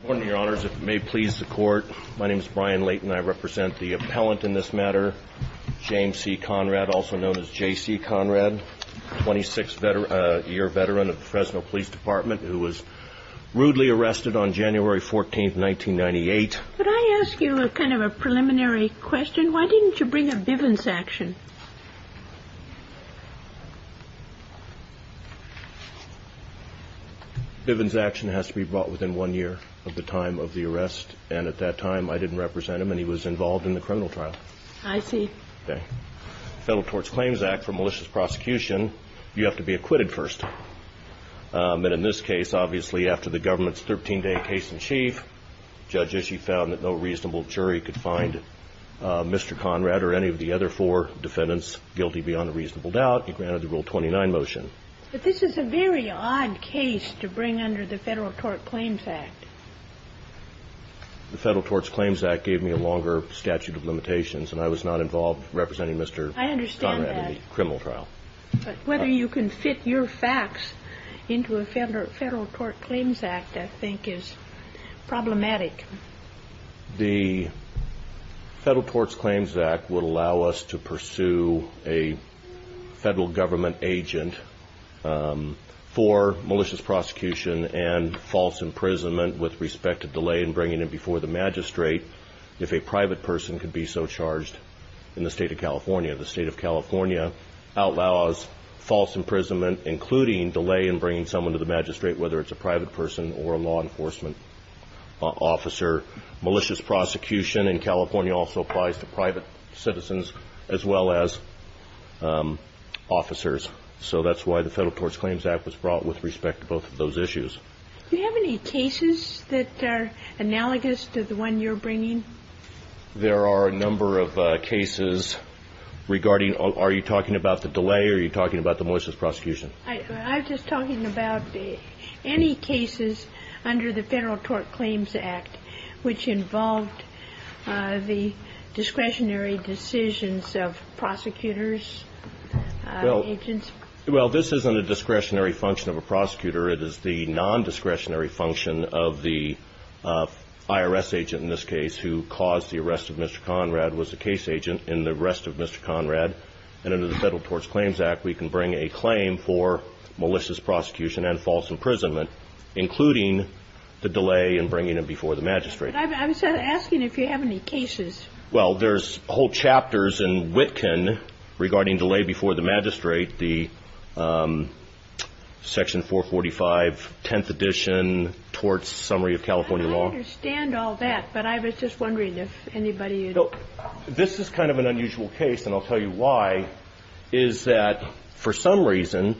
Good morning, Your Honors. If it may please the Court, my name is Brian Leighton. I represent the appellant in this matter, James C. Conrad, also known as J.C. Conrad, 26-year veteran of the Fresno Police Department, who was rudely arrested on January 14, 1998. Could I ask you a kind of a preliminary question? Why didn't you bring a Bivens action? Bivens action has to be brought within one year of the time of the arrest, and at that time I didn't represent him, and he was involved in the criminal trial. I see. Okay. Federal Torts Claims Act, for malicious prosecution, you have to be acquitted first. And in this case, obviously, after the government's 13-day case in chief, Judge Ishii found that no reasonable jury could find Mr. Conrad or any of the other four defendants guilty beyond a reasonable doubt. He granted the Rule 29 motion. But this is a very odd case to bring under the Federal Torts Claims Act. The Federal Torts Claims Act gave me a longer statute of limitations, and I was not involved representing Mr. Conrad in the criminal trial. I understand that. But whether you can fit your facts into a Federal Torts Claims Act, I think, is problematic. The Federal Torts Claims Act would allow us to pursue a federal government agent for malicious prosecution and false imprisonment with respect to delay in bringing him before the magistrate if a private person could be so charged in the state of California. The state of California outlaws false imprisonment, including delay in bringing someone to the magistrate, whether it's a private person or a law enforcement officer. Malicious prosecution in California also applies to private citizens as well as officers. So that's why the Federal Torts Claims Act was brought with respect to both of those issues. Do you have any cases that are analogous to the one you're bringing? There are a number of cases regarding – are you talking about the delay or are you talking about the malicious prosecution? I'm just talking about any cases under the Federal Torts Claims Act which involved the discretionary decisions of prosecutors, agents. Well, this isn't a discretionary function of a prosecutor. It is the nondiscretionary function of the IRS agent in this case who caused the arrest of Mr. Conrad was a case agent in the arrest of Mr. Conrad. And under the Federal Torts Claims Act, we can bring a claim for malicious prosecution and false imprisonment, including the delay in bringing him before the magistrate. I'm just asking if you have any cases. Well, there's whole chapters in Witkin regarding delay before the magistrate, the Section 445 Tenth Edition Torts Summary of California Law. I understand all that, but I was just wondering if anybody – This is kind of an unusual case, and I'll tell you why, is that for some reason,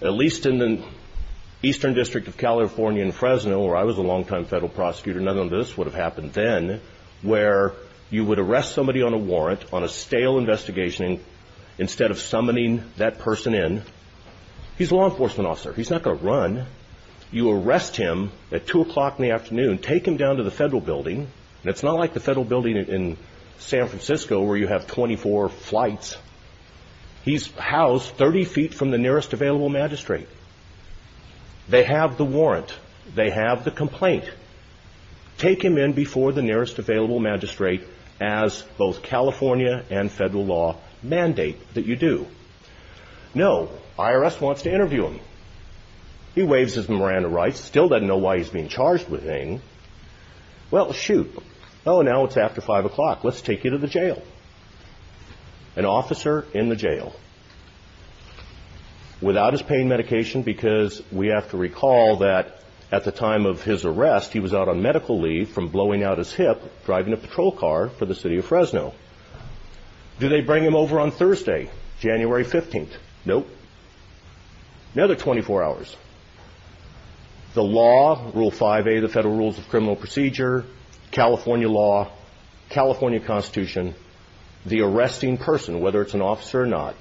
at least in the Eastern District of California in Fresno, where I was a long-time federal prosecutor, none of this would have happened then, where you would arrest somebody on a warrant on a stale investigation instead of summoning that person in. He's a law enforcement officer. He's not going to run. You arrest him at 2 o'clock in the afternoon, take him down to the federal building. And it's not like the federal building in San Francisco where you have 24 flights. He's housed 30 feet from the nearest available magistrate. They have the warrant. They have the complaint. Take him in before the nearest available magistrate as both California and federal law mandate that you do. No, IRS wants to interview him. He waves his memorandum of rights, still doesn't know why he's being charged with anything. Well, shoot. Oh, now it's after 5 o'clock. Let's take you to the jail. An officer in the jail without his pain medication because we have to recall that at the time of his arrest, he was out on medical leave from blowing out his hip driving a patrol car for the city of Fresno. Do they bring him over on Thursday, January 15th? Nope. Another 24 hours. The law, Rule 5A of the Federal Rules of Criminal Procedure, California law, California Constitution, the arresting person, whether it's an officer or not,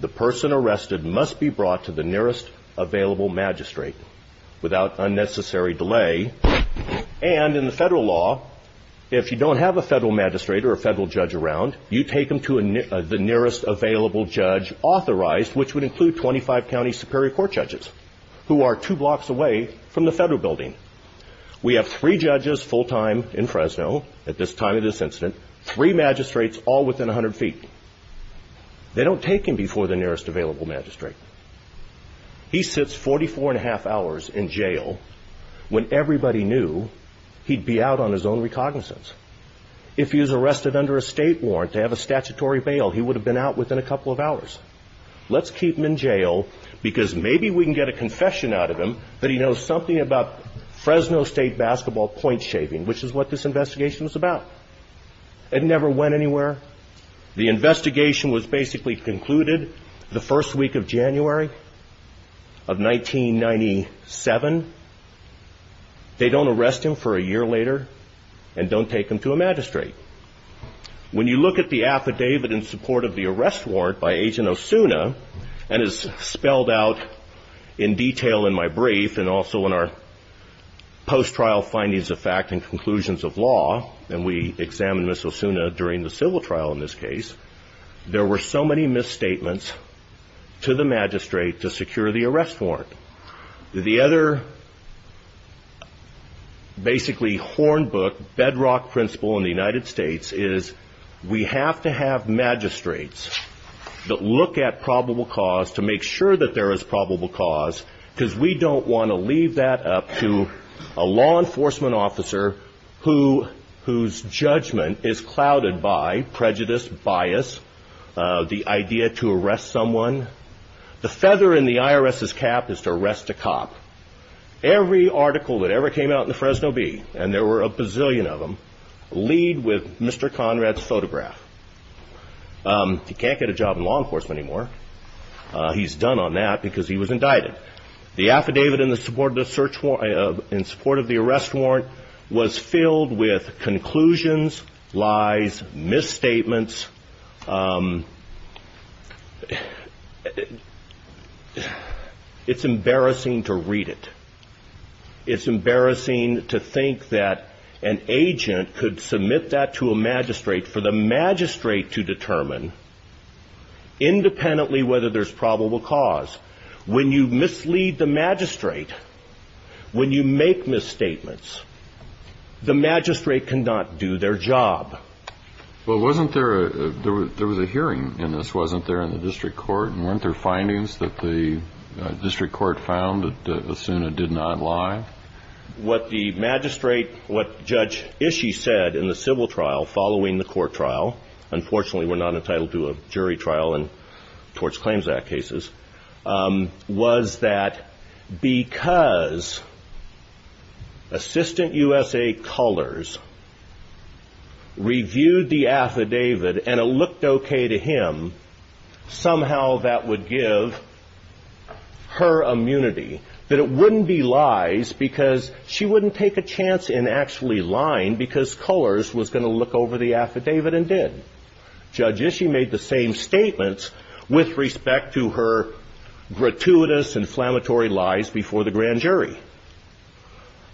the person arrested must be brought to the nearest available magistrate without unnecessary delay. And in the federal law, if you don't have a federal magistrate or a federal judge around, you take him to the nearest available judge authorized, which would include 25 county superior court judges who are two blocks away from the federal building. We have three judges full time in Fresno at this time of this incident, three magistrates all within 100 feet. They don't take him before the nearest available magistrate. He sits 44 and a half hours in jail when everybody knew he'd be out on his own recognizance. If he was arrested under a state warrant to have a statutory bail, he would have been out within a couple of hours. Let's keep him in jail because maybe we can get a confession out of him that he knows something about Fresno State basketball point shaving, which is what this investigation is about. It never went anywhere. The investigation was basically concluded the first week of January of 1997. They don't arrest him for a year later and don't take him to a magistrate. When you look at the affidavit in support of the arrest warrant by Agent Osuna and is spelled out in detail in my brief and also in our post trial findings of fact and conclusions of law, and we examine Miss Osuna during the civil trial in this case, there were so many misstatements to the magistrate to secure the arrest warrant. The other basically horn book, bedrock principle in the United States is we have to have magistrates that look at probable cause to make sure that there is probable cause because we don't want to leave that up to a law enforcement officer whose judgment is clouded by prejudice, bias, the idea to arrest someone. The feather in the IRS's cap is to arrest a cop. Every article that ever came out in the Fresno Bee, and there were a bazillion of them, lead with Mr. Conrad's photograph. He can't get a job in law enforcement anymore. He's done on that because he was indicted. It's embarrassing to read it. It's embarrassing to think that an agent could submit that to a magistrate for the magistrate to determine independently whether there's probable cause. When you mislead the magistrate, when you make misstatements, the magistrate cannot do their job. Well, wasn't there, there was a hearing in this, wasn't there in the district court, and weren't there findings that the district court found that Osuna did not lie? What the magistrate, what Judge Ishii said in the civil trial following the court trial, unfortunately we're not entitled to a jury trial in Tort Claims Act cases, was that because Assistant USA colors reviewed the affidavit and it looked okay to him, somehow that would give her immunity, that it wouldn't be lies because she wouldn't take a chance in actually lying because colors was going to look over the affidavit and did. Judge Ishii made the same statements with respect to her gratuitous inflammatory lies before the grand jury.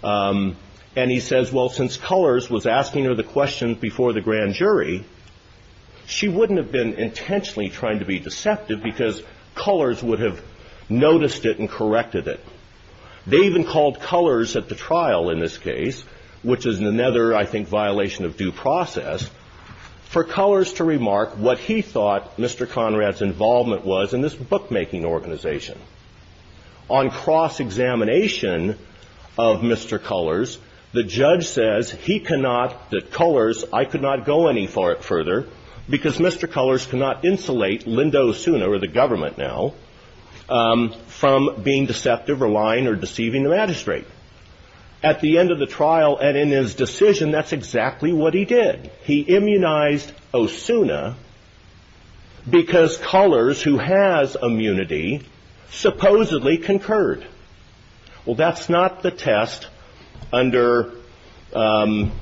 And he says, well, since colors was asking her the question before the grand jury, she wouldn't have been intentionally trying to be deceptive because colors would have noticed it and corrected it. They even called colors at the trial in this case, which is another, I think, violation of due process for colors to remark what he thought Mr. Conrad's involvement was in this bookmaking organization. On cross-examination of Mr. Colors, the judge says he cannot, that colors, I could not go any further because Mr. Colors cannot insulate Linda Osuna, or the government now, from being deceptive or lying or deceiving the magistrate. At the end of the trial and in his decision, that's exactly what he did. He immunized Osuna because colors, who has immunity, supposedly concurred. Well, that's not the test under lying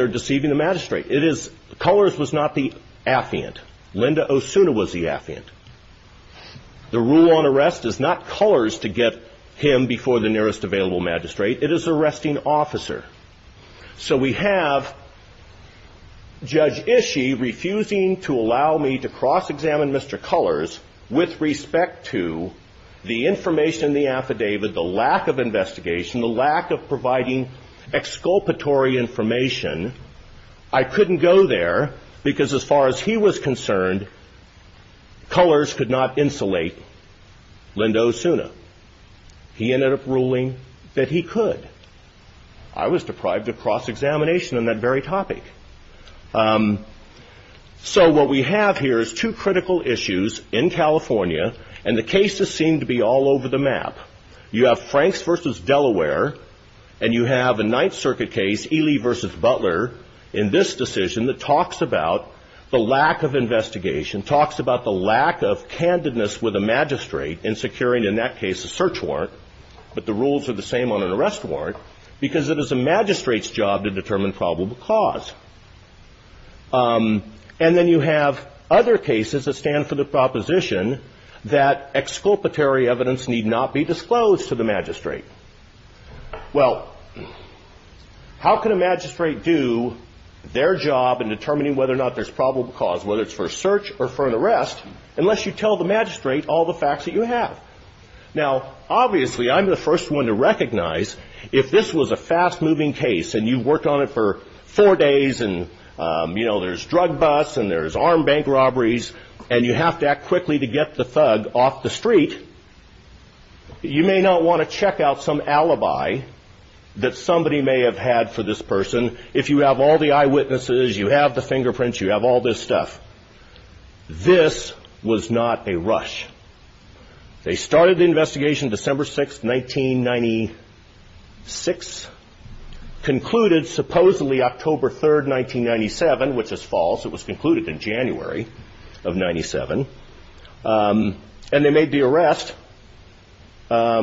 or deceiving the magistrate. It is, colors was not the affiant. Linda Osuna was the affiant. The rule on arrest is not colors to get him before the nearest available magistrate. It is arresting officer. So we have Judge Ishii refusing to allow me to cross-examine Mr. Colors with respect to the information in the affidavit, the lack of investigation, the lack of providing exculpatory information. I couldn't go there because as far as he was concerned, Colors could not insulate Linda Osuna. He ended up ruling that he could. I was deprived of cross-examination on that very topic. So what we have here is two critical issues in California, and the cases seem to be all over the map. You have Franks v. Delaware, and you have a Ninth Circuit case, Ely v. Butler, in this decision that talks about the lack of investigation, talks about the lack of candidness with a magistrate in securing, in that case, a search warrant, but the rules are the same on an arrest warrant because it is a magistrate's job to determine probable cause. And then you have other cases that stand for the proposition that exculpatory evidence need not be disclosed to the magistrate. Well, how can a magistrate do their job in determining whether or not there's probable cause, whether it's for a search or for an arrest, unless you tell the magistrate all the facts that you have? Now, obviously, I'm the first one to recognize if this was a fast-moving case and you worked on it for four days and there's drug busts and there's armed bank robberies and you have to act quickly to get the thug off the street, you may not want to check out some alibi that somebody may have had for this person if you have all the eyewitnesses, you have the fingerprints, you have all this stuff. This was not a rush. They started the investigation December 6, 1996, concluded supposedly October 3, 1997, which is false. It was concluded in January of 97. And they made the arrest five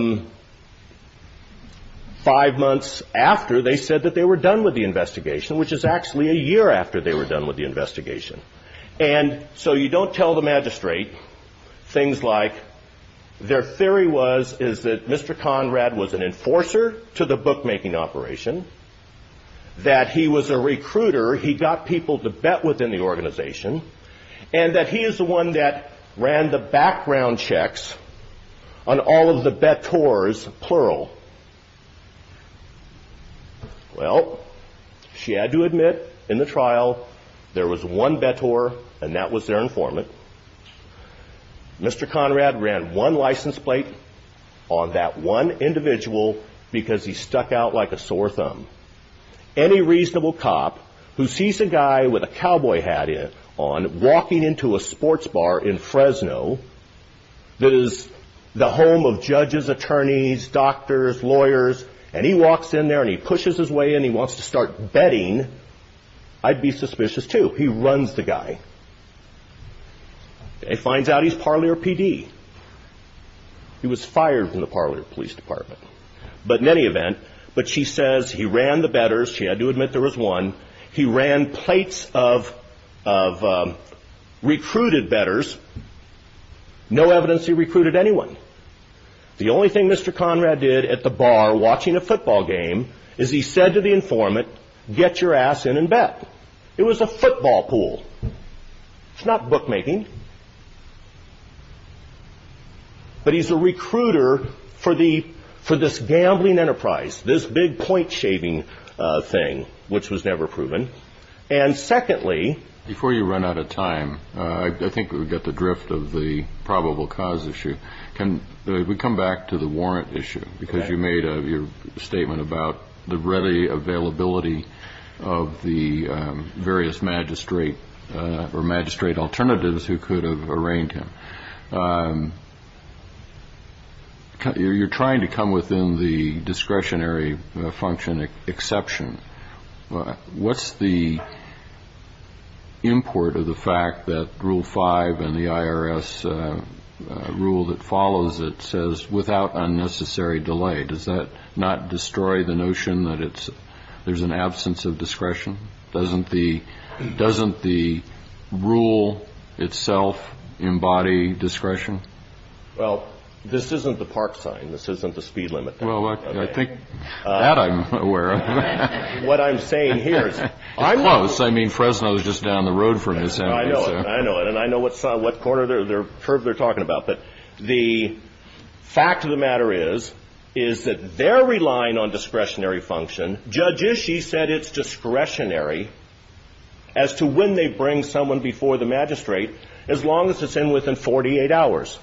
months after they said that they were done with the investigation, which is actually a year after they were done with the investigation. And so you don't tell the magistrate things like their theory was is that Mr. Conrad was an enforcer to the bookmaking operation, that he was a recruiter, he got people to bet within the organization, and that he is the one that ran the background checks on all of the betors, plural. Well, she had to admit in the trial there was one betor and that was their informant. Mr. Conrad ran one license plate on that one individual because he stuck out like a sore thumb. Any reasonable cop who sees a guy with a cowboy hat on walking into a sports bar in Fresno that is the home of judges, attorneys, doctors, lawyers, and he walks in there and he pushes his way in, he wants to start betting, I'd be suspicious too. He runs the guy. He finds out he's Parlier PD. He was fired from the Parlier Police Department. But in any event, but she says he ran the betors, she had to admit there was one, he ran plates of recruited betors, no evidence he recruited anyone. The only thing Mr. Conrad did at the bar watching a football game is he said to the informant, get your ass in and bet. It was a football pool. It's not bookmaking. But he's a recruiter for this gambling enterprise, this big point-shaving thing, which was never proven. And secondly, before you run out of time, I think we've got the drift of the probable cause issue. Can we come back to the warrant issue? Because you made a statement about the ready availability of the various magistrate or magistrate alternatives who could have arraigned him. You're trying to come within the discretionary function exception. What's the import of the fact that Rule 5 and the IRS rule that follows it says, without unnecessary delay. Does that not destroy the notion that there's an absence of discretion? Doesn't the rule itself embody discretion? Well, this isn't the park sign. This isn't the speed limit. Well, I think that I'm aware of. What I'm saying here is close. I mean, Fresno is just down the road from this. I know. I know. And I know what corner they're talking about. But the fact of the matter is, is that they're relying on discretionary function. Judge Ishii said it's discretionary as to when they bring someone before the magistrate as long as it's in within 48 hours.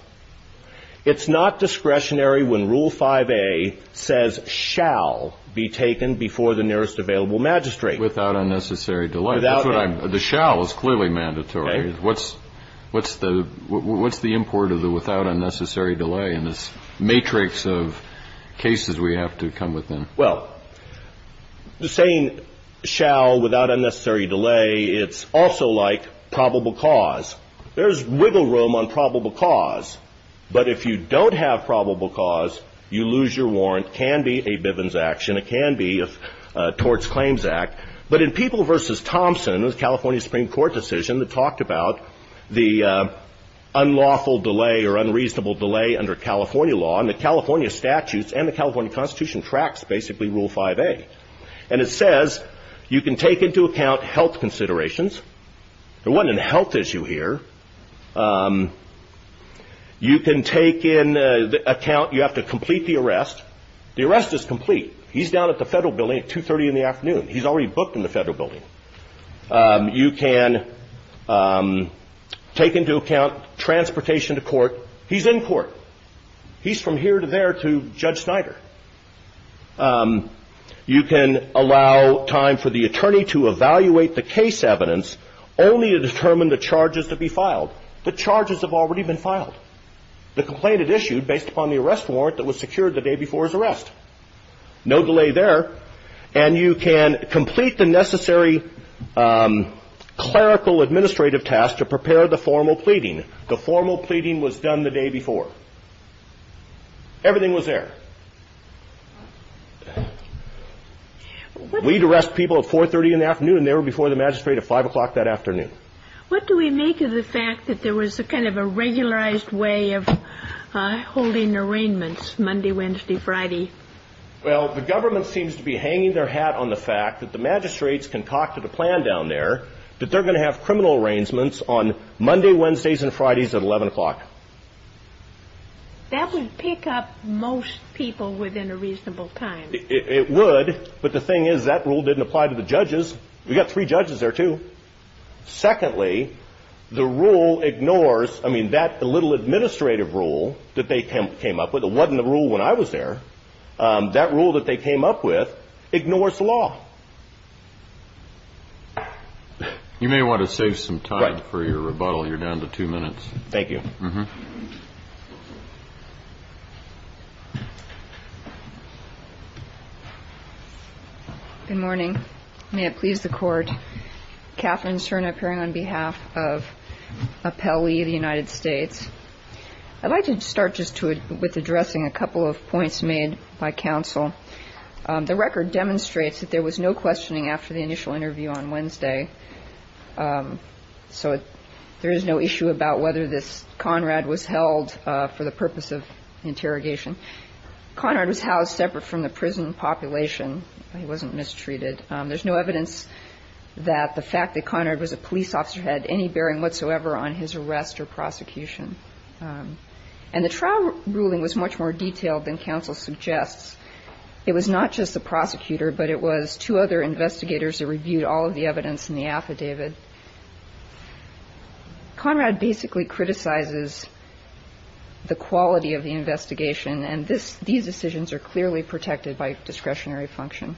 It's not discretionary when Rule 5A says shall be taken before the nearest available magistrate. Without unnecessary delay. The shall is clearly mandatory. What's the import of the without unnecessary delay in this matrix of cases we have to come within? Well, the saying shall without unnecessary delay, it's also like probable cause. There's wiggle room on probable cause. But if you don't have probable cause, you lose your warrant, can be a Bivens action, it can be a torts claims act. But in People v. Thompson, it was a California Supreme Court decision that talked about the unlawful delay or unreasonable delay under California law. And the California statutes and the California Constitution tracks basically Rule 5A. And it says you can take into account health considerations. There wasn't a health issue here. You can take in account you have to complete the arrest. The arrest is complete. He's down at the federal building at two thirty in the afternoon. He's already booked in the federal building. You can take into account transportation to court. He's in court. He's from here to there to Judge Snyder. You can allow time for the attorney to evaluate the case evidence only to determine the charges to be filed. The charges have already been filed. The complaint is issued based upon the arrest warrant that was secured the day before his arrest. No delay there. And you can complete the necessary clerical administrative tasks to prepare the formal pleading. The formal pleading was done the day before. Everything was there. We'd arrest people at four thirty in the afternoon. They were before the magistrate at five o'clock that afternoon. What do we make of the fact that there was a kind of a regularized way of holding arraignments Monday, Wednesday, Friday? Well, the government seems to be hanging their hat on the fact that the magistrates concocted a plan down there that they're going to have criminal arraignments on Monday, Wednesdays and Fridays at 11 o'clock. That would pick up most people within a reasonable time. It would. But the thing is, that rule didn't apply to the judges. We got three judges there, too. Secondly, the rule ignores I mean, that little administrative rule that they came up with. It wasn't the rule when I was there. That rule that they came up with ignores the law. You may want to save some time for your rebuttal. You're down to two minutes. Thank you. Good morning. May it please the court. Catherine Serna appearing on behalf of Appellee of the United States. I'd like to start just with addressing a couple of points made by counsel. The record demonstrates that there was no questioning after the initial interview on Wednesday. So there is no issue about whether this Conrad was held for the purpose of interrogation. Conrad was housed separate from the prison population. He wasn't mistreated. There's no evidence that the fact that Conrad was a police officer had any bearing whatsoever on his arrest or prosecution. And the trial ruling was much more detailed than counsel suggests. It was not just the prosecutor, but it was two other investigators that reviewed all of the evidence in the affidavit. Conrad basically criticizes the quality of the investigation, and these decisions are clearly protected by discretionary function.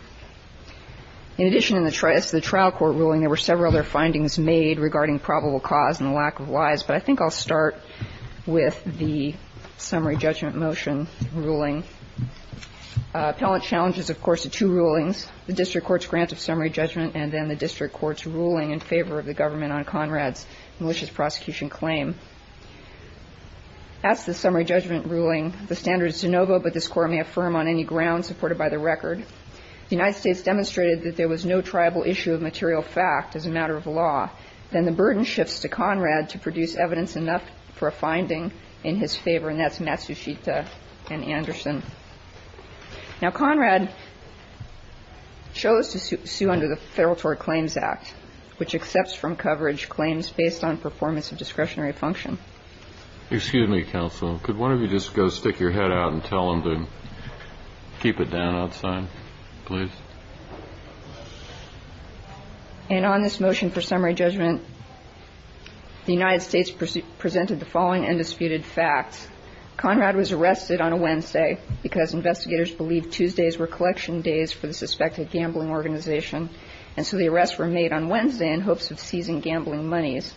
In addition to the trial court ruling, there were several other findings made regarding probable cause and the lack of lies. But I think I'll start with the summary judgment motion ruling. Appellant challenges, of course, the two rulings, the district court's grant of summary judgment, and then the district court's ruling in favor of the government on Conrad's malicious prosecution claim. That's the summary judgment ruling. The standard is de novo, but this Court may affirm on any ground supported by the record. The United States demonstrated that there was no tribal issue of material fact as a matter of law. Then the burden shifts to Conrad to produce evidence enough for a finding in his favor, and that's Matsushita and Anderson. Now, Conrad chose to sue under the Federal Tort Claims Act, which accepts from coverage claims based on performance of discretionary function. Excuse me, counsel. Could one of you just go stick your head out and tell them to keep it down outside, please? And on this motion for summary judgment, the United States presented the following undisputed facts. Conrad was arrested on a Wednesday because investigators believed Tuesdays were collection days for the suspected gambling organization, and so the arrests were made on Wednesday in hopes of seizing gambling monies.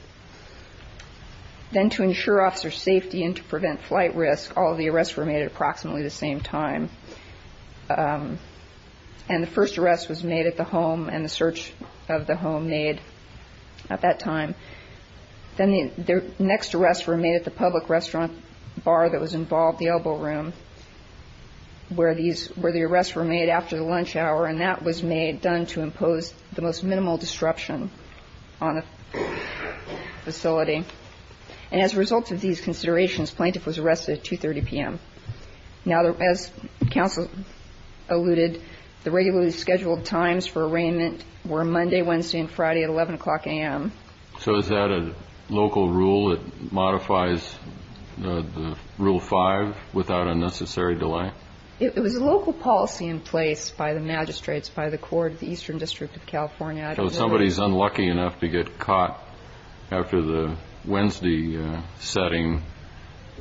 Then to ensure officer safety and to prevent flight risk, all of the arrests were made at approximately the same time. And the first arrest was made at the home and the search of the home made at that time. Then the next arrests were made at the public restaurant bar that was involved, the Elbow Room, where these – where the arrests were made after the lunch hour, and that was made – done to impose the most minimal disruption on a facility. And as a result of these considerations, plaintiff was arrested at 2.30 p.m. Now, as counsel alluded, the regularly scheduled times for arraignment were Monday, Wednesday, and Friday at 11 o'clock a.m. So is that a local rule that modifies the Rule 5 without unnecessary delay? It was a local policy in place by the magistrates, by the court of the Eastern District of California. So if somebody is unlucky enough to get caught after the Wednesday setting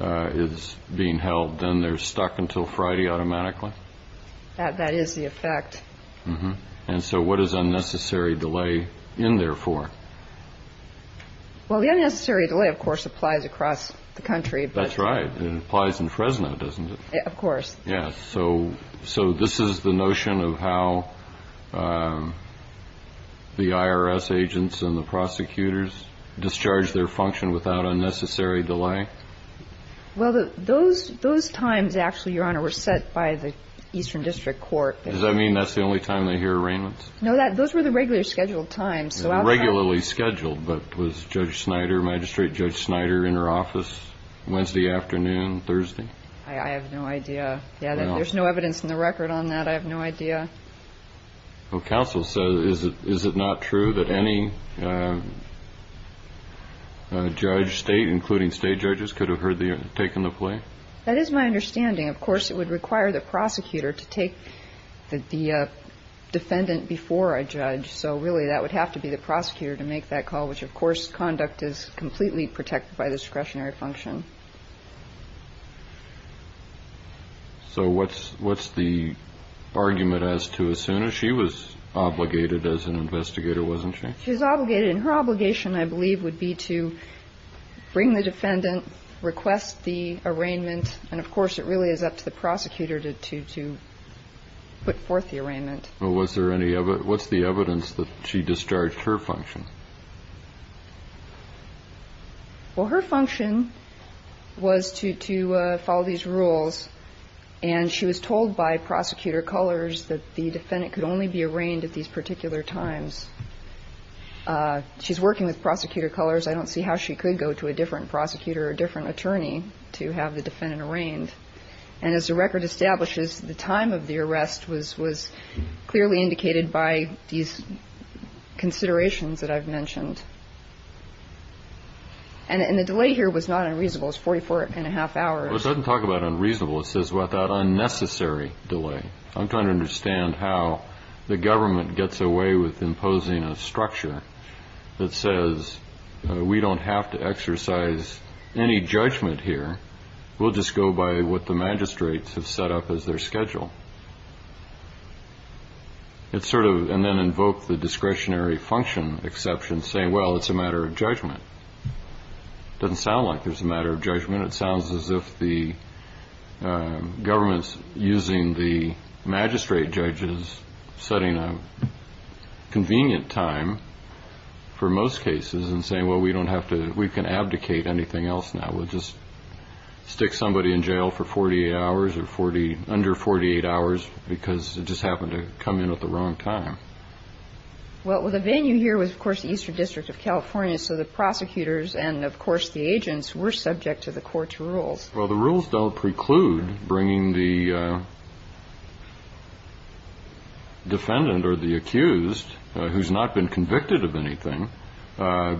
is being held, then they're stuck until Friday automatically? That is the effect. And so what is unnecessary delay in there for? Well, the unnecessary delay, of course, applies across the country. That's right. It applies in Fresno, doesn't it? Of course. Yes. So this is the notion of how the IRS agents and the prosecutors discharge their function without unnecessary delay? Well, those times, actually, Your Honor, were set by the Eastern District Court. Does that mean that's the only time they hear arraignments? No, those were the regularly scheduled times. Regularly scheduled, but was Judge Snyder, Magistrate Judge Snyder, in her office Wednesday afternoon, Thursday? I have no idea. Yeah, there's no evidence in the record on that. I have no idea. Well, counsel says, is it not true that any judge, state, including state judges, could have heard the, taken the plea? That is my understanding. Of course, it would require the prosecutor to take the defendant before a judge. So really, that would have to be the prosecutor to make that call, which, of course, conduct is completely protected by discretionary function. So what's the argument as to as soon as she was obligated as an investigator, wasn't she? She was obligated, and her obligation, I believe, would be to bring the defendant, request the arraignment, and, of course, it really is up to the prosecutor to put forth the arraignment. Well, was there any, what's the evidence that she discharged her function? Well, her function was to follow these rules, and she was told by Prosecutor Cullors that the defendant could only be arraigned at these particular times. She's working with Prosecutor Cullors. I don't see how she could go to a different prosecutor or a different attorney to have the defendant arraigned. And as the record establishes, the time of the arrest was clearly indicated by these considerations that I've mentioned. And the delay here was not unreasonable. It was 44 and a half hours. Well, it doesn't talk about unreasonable. It says that unnecessary delay. I'm trying to understand how the government gets away with imposing a structure that says we don't have to exercise any judgment here. We'll just go by what the magistrates have set up as their schedule. And then invoke the discretionary function exception, saying, well, it's a matter of judgment. It doesn't sound like there's a matter of judgment. It sounds as if the government's using the magistrate judges, setting a convenient time for most cases, and saying, well, we can abdicate anything else now. We'll just stick somebody in jail for 48 hours or under 48 hours because it just happened to come in at the wrong time. Well, the venue here was, of course, the Eastern District of California. So the prosecutors and, of course, the agents were subject to the court's rules. Well, the rules don't preclude bringing the defendant or the accused, who's not been convicted of anything,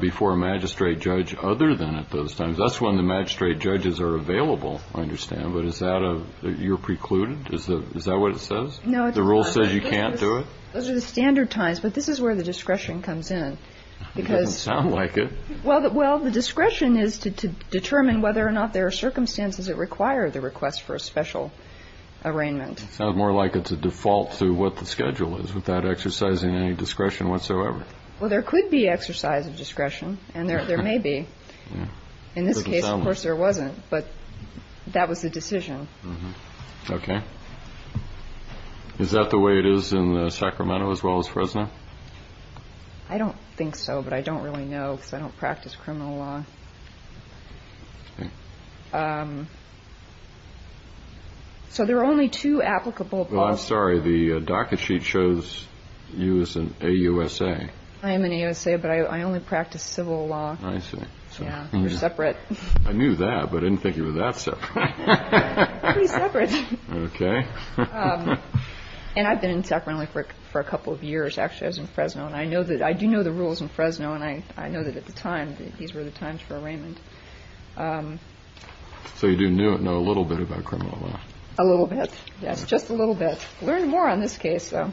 before a magistrate judge other than at those times. That's when the magistrate judges are available, I understand. But is that a – you're precluded? Is that what it says? No, it's not. The rule says you can't do it? Those are the standard times. But this is where the discretion comes in. It doesn't sound like it. Well, the discretion is to determine whether or not there are circumstances that require the request for a special arraignment. It sounds more like it's a default to what the schedule is without exercising any discretion whatsoever. Well, there could be exercise of discretion, and there may be. In this case, of course, there wasn't. But that was the decision. Okay. Is that the way it is in Sacramento as well as Fresno? I don't think so, but I don't really know because I don't practice criminal law. So there are only two applicable policies. Well, I'm sorry. The docket sheet shows you as an AUSA. I am an AUSA, but I only practice civil law. I see. Yeah. We're separate. I knew that, but I didn't think you were that separate. Pretty separate. Okay. And I've been in Sacramento for a couple of years, actually. I was in Fresno. I do know the rules in Fresno, and I know that at the time, these were the times for arraignment. So you do know a little bit about criminal law. A little bit, yes, just a little bit. Learned more on this case, though.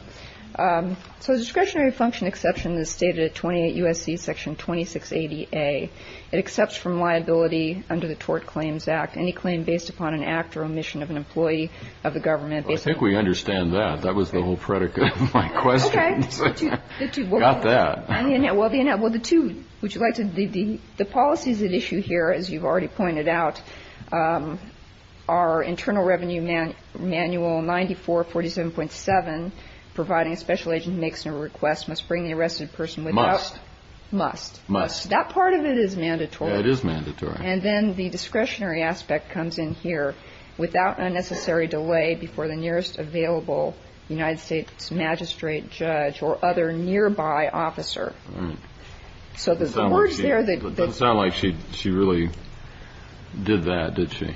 So discretionary function exception is stated at 28 U.S.C. Section 2680A. It accepts from liability under the Tort Claims Act any claim based upon an act or omission of an employee of the government. I think we understand that. That was the whole predicate of my question. Okay. Got that. Well, the two, would you like to, the policies at issue here, as you've already pointed out, are Internal Revenue Manual 9447.7, providing a special agent makes a request, must bring the arrested person without. Must. Must. Must. That part of it is mandatory. It is mandatory. And then the discretionary aspect comes in here, without unnecessary delay, before the nearest available United States magistrate, judge, or other nearby officer. So the words there. It doesn't sound like she really did that, did she?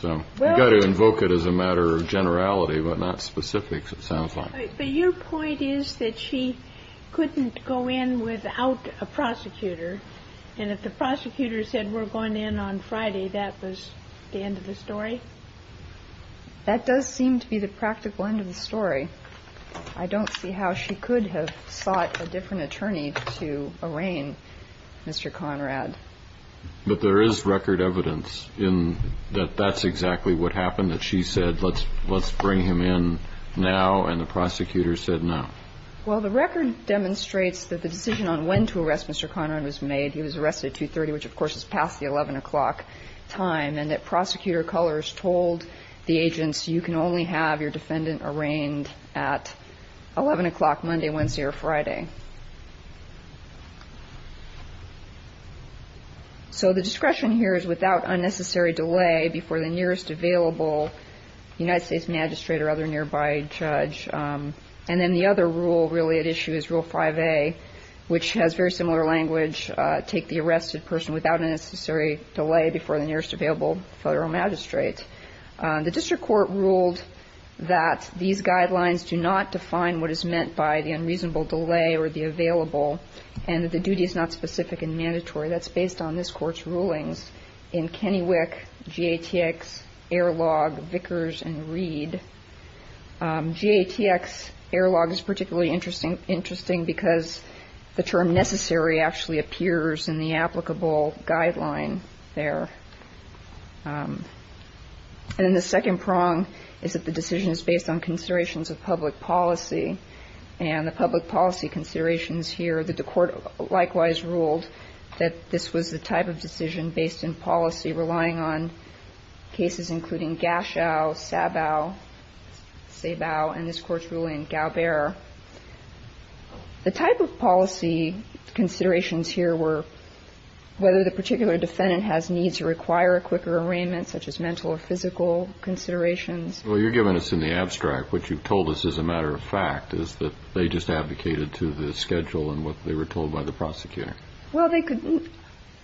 So you've got to invoke it as a matter of generality, but not specifics, it sounds like. But your point is that she couldn't go in without a prosecutor. And if the prosecutor said we're going in on Friday, that was the end of the story? That does seem to be the practical end of the story. I don't see how she could have sought a different attorney to arraign Mr. Conrad. But there is record evidence that that's exactly what happened, that she said let's bring him in now, and the prosecutor said no. Well, the record demonstrates that the decision on when to arrest Mr. Conrad was made. He was arrested at 2.30, which, of course, is past the 11 o'clock time, and that Prosecutor Cullors told the agents, you can only have your defendant arraigned at 11 o'clock Monday, Wednesday, or Friday. So the discretion here is without unnecessary delay before the nearest available United States magistrate or other nearby judge. And then the other rule really at issue is Rule 5A, which has very similar language, take the arrested person without a necessary delay before the nearest available federal magistrate. The district court ruled that these guidelines do not define what is meant by the unreasonable delay or the available, and that the duty is not specific and mandatory. That's based on this Court's rulings in Kennewick, GATX, Airlog, Vickers, and Reed. GATX, Airlog, is particularly interesting because the term necessary actually appears in the applicable guideline there. And then the second prong is that the decision is based on considerations of public policy. And the public policy considerations here, that the Court likewise ruled that this was the type of decision based in policy relying on cases including Gashow, Sabow, Sabow, and this Court's ruling, Galbera. The type of policy considerations here were whether the particular defendant has needs or require a quicker arraignment, such as mental or physical considerations. Well, you're giving us in the abstract what you've told us as a matter of fact, is that they just advocated to the schedule and what they were told by the prosecutor. Well, they could,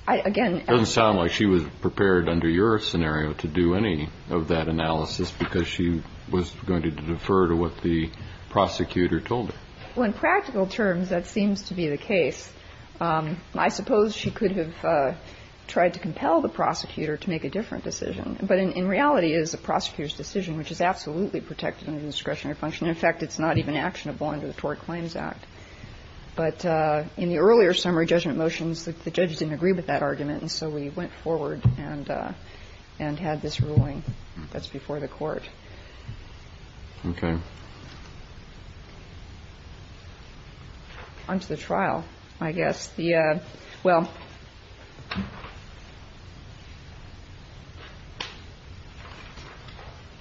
again. It doesn't sound like she was prepared under your scenario to do any of that analysis because she was going to defer to what the prosecutor told her. Well, in practical terms, that seems to be the case. I suppose she could have tried to compel the prosecutor to make a different decision, but in reality, it is the prosecutor's decision which is absolutely protected under discretionary function. In fact, it's not even actionable under the Tort Claims Act. But in the earlier summary judgment motions, the judges didn't agree with that argument, and so we went forward and had this ruling that's before the Court. Okay. Onto the trial, I guess. Well,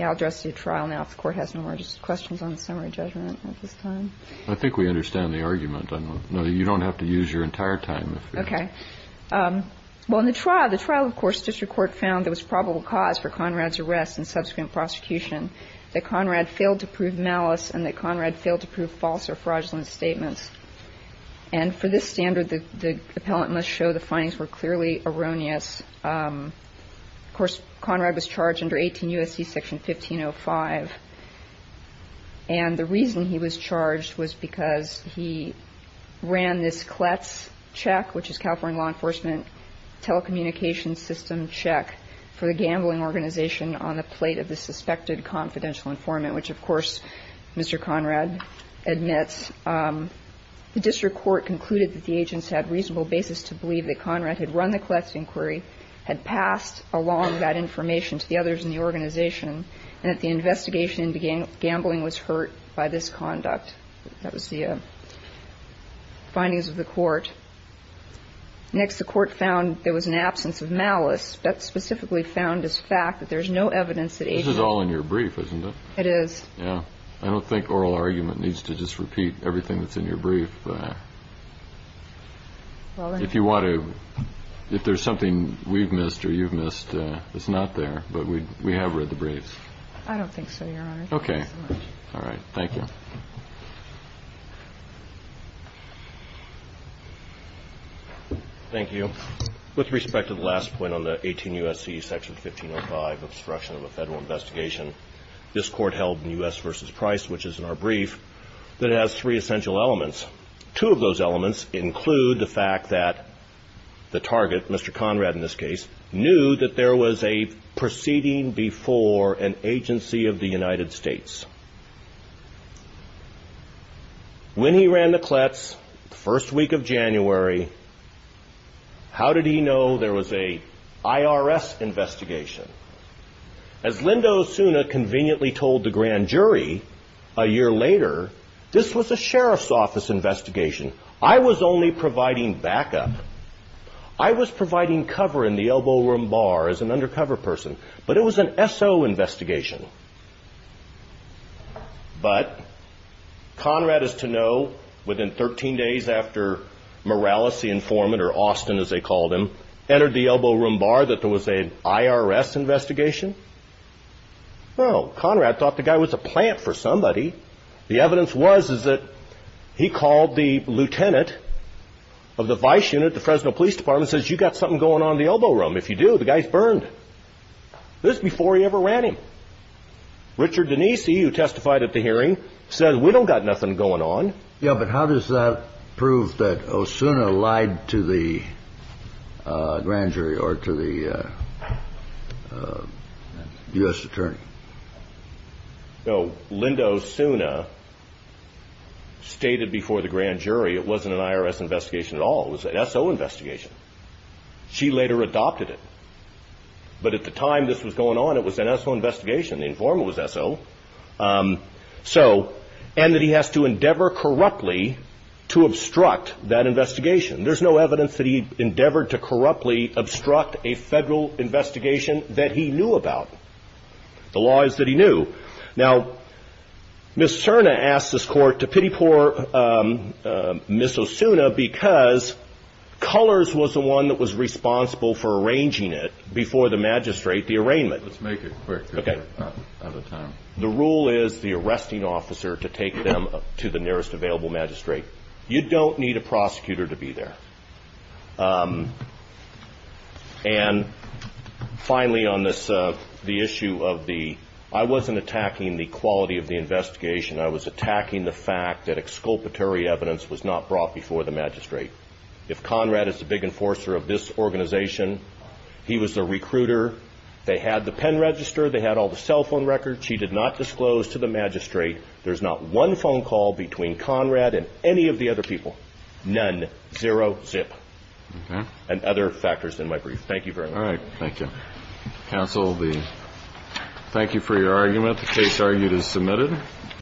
I'll address the trial now if the Court has no more questions on the summary judgment at this time. I think we understand the argument. No, you don't have to use your entire time. Okay. Well, in the trial, the trial, of course, District Court found there was probable cause for Conrad's arrest and subsequent prosecution that Conrad failed to prove the malice and that Conrad failed to prove false or fraudulent statements. And for this standard, the appellant must show the findings were clearly erroneous. Of course, Conrad was charged under 18 U.S.C. Section 1505. And the reason he was charged was because he ran this Kletz check, which is California law enforcement telecommunications system check for the gambling organization on the basis of a suspected confidential informant, which, of course, Mr. Conrad admits. The District Court concluded that the agents had reasonable basis to believe that Conrad had run the Kletz inquiry, had passed along that information to the others in the organization, and that the investigation into gambling was hurt by this conduct. That was the findings of the Court. Next, the Court found there was an absence of malice. That's specifically found as fact, that there's no evidence that agents ---- This is all in your brief, isn't it? It is. Yeah. I don't think oral argument needs to just repeat everything that's in your brief. If you want to, if there's something we've missed or you've missed, it's not there. But we have read the brief. I don't think so, Your Honor. Okay. All right. Thank you. Thank you. With respect to the last point on the 18 U.S.C. Section 1505, obstruction of a federal investigation, this Court held in U.S. v. Price, which is in our brief, that it has three essential elements. Two of those elements include the fact that the target, Mr. Conrad in this case, knew that there was a proceeding before an agency of the United States. When he ran the clets, the first week of January, how did he know there was an IRS investigation? As Linda Osuna conveniently told the grand jury a year later, this was a sheriff's office investigation. I was only providing backup. I was providing cover in the elbow room bar as an undercover person. But it was an S.O. investigation. But Conrad is to know within 13 days after Morales, the informant, or Austin as they called him, entered the elbow room bar that there was an IRS investigation. Well, Conrad thought the guy was a plant for somebody. The evidence was that he called the lieutenant of the vice unit, the Fresno Police Department, and said, you've got something going on in the elbow room. If you do, the guy's burned. This was before he ever ran him. Richard Denise, who testified at the hearing, said, we don't got nothing going on. Yeah. But how does that prove that Osuna lied to the grand jury or to the U.S. attorney? No. Linda Osuna stated before the grand jury it wasn't an IRS investigation at all. It was an S.O. investigation. She later adopted it. But at the time this was going on, it was an S.O. investigation. The informant was S.O. And that he has to endeavor corruptly to obstruct that investigation. There's no evidence that he endeavored to corruptly obstruct a federal investigation that he knew about. The law is that he knew. Now, Ms. Cerna asked this court to pity poor Ms. Osuna because Cullors was the one that was responsible for arranging it before the magistrate, the arraignment. Let's make it quick. Okay. Out of time. The rule is the arresting officer to take them to the nearest available magistrate. You don't need a prosecutor to be there. And finally on this, the issue of the, I wasn't attacking the quality of the investigation. I was attacking the fact that exculpatory evidence was not brought before the magistrate. If Conrad is the big enforcer of this organization, he was the recruiter. They had the pen register. They had all the cell phone records. She did not disclose to the magistrate. There's not one phone call between Conrad and any of the other people. None. Zero zip. Okay. And other factors in my brief. Thank you very much. All right. Thank you. Counsel, thank you for your argument. The case argued is submitted.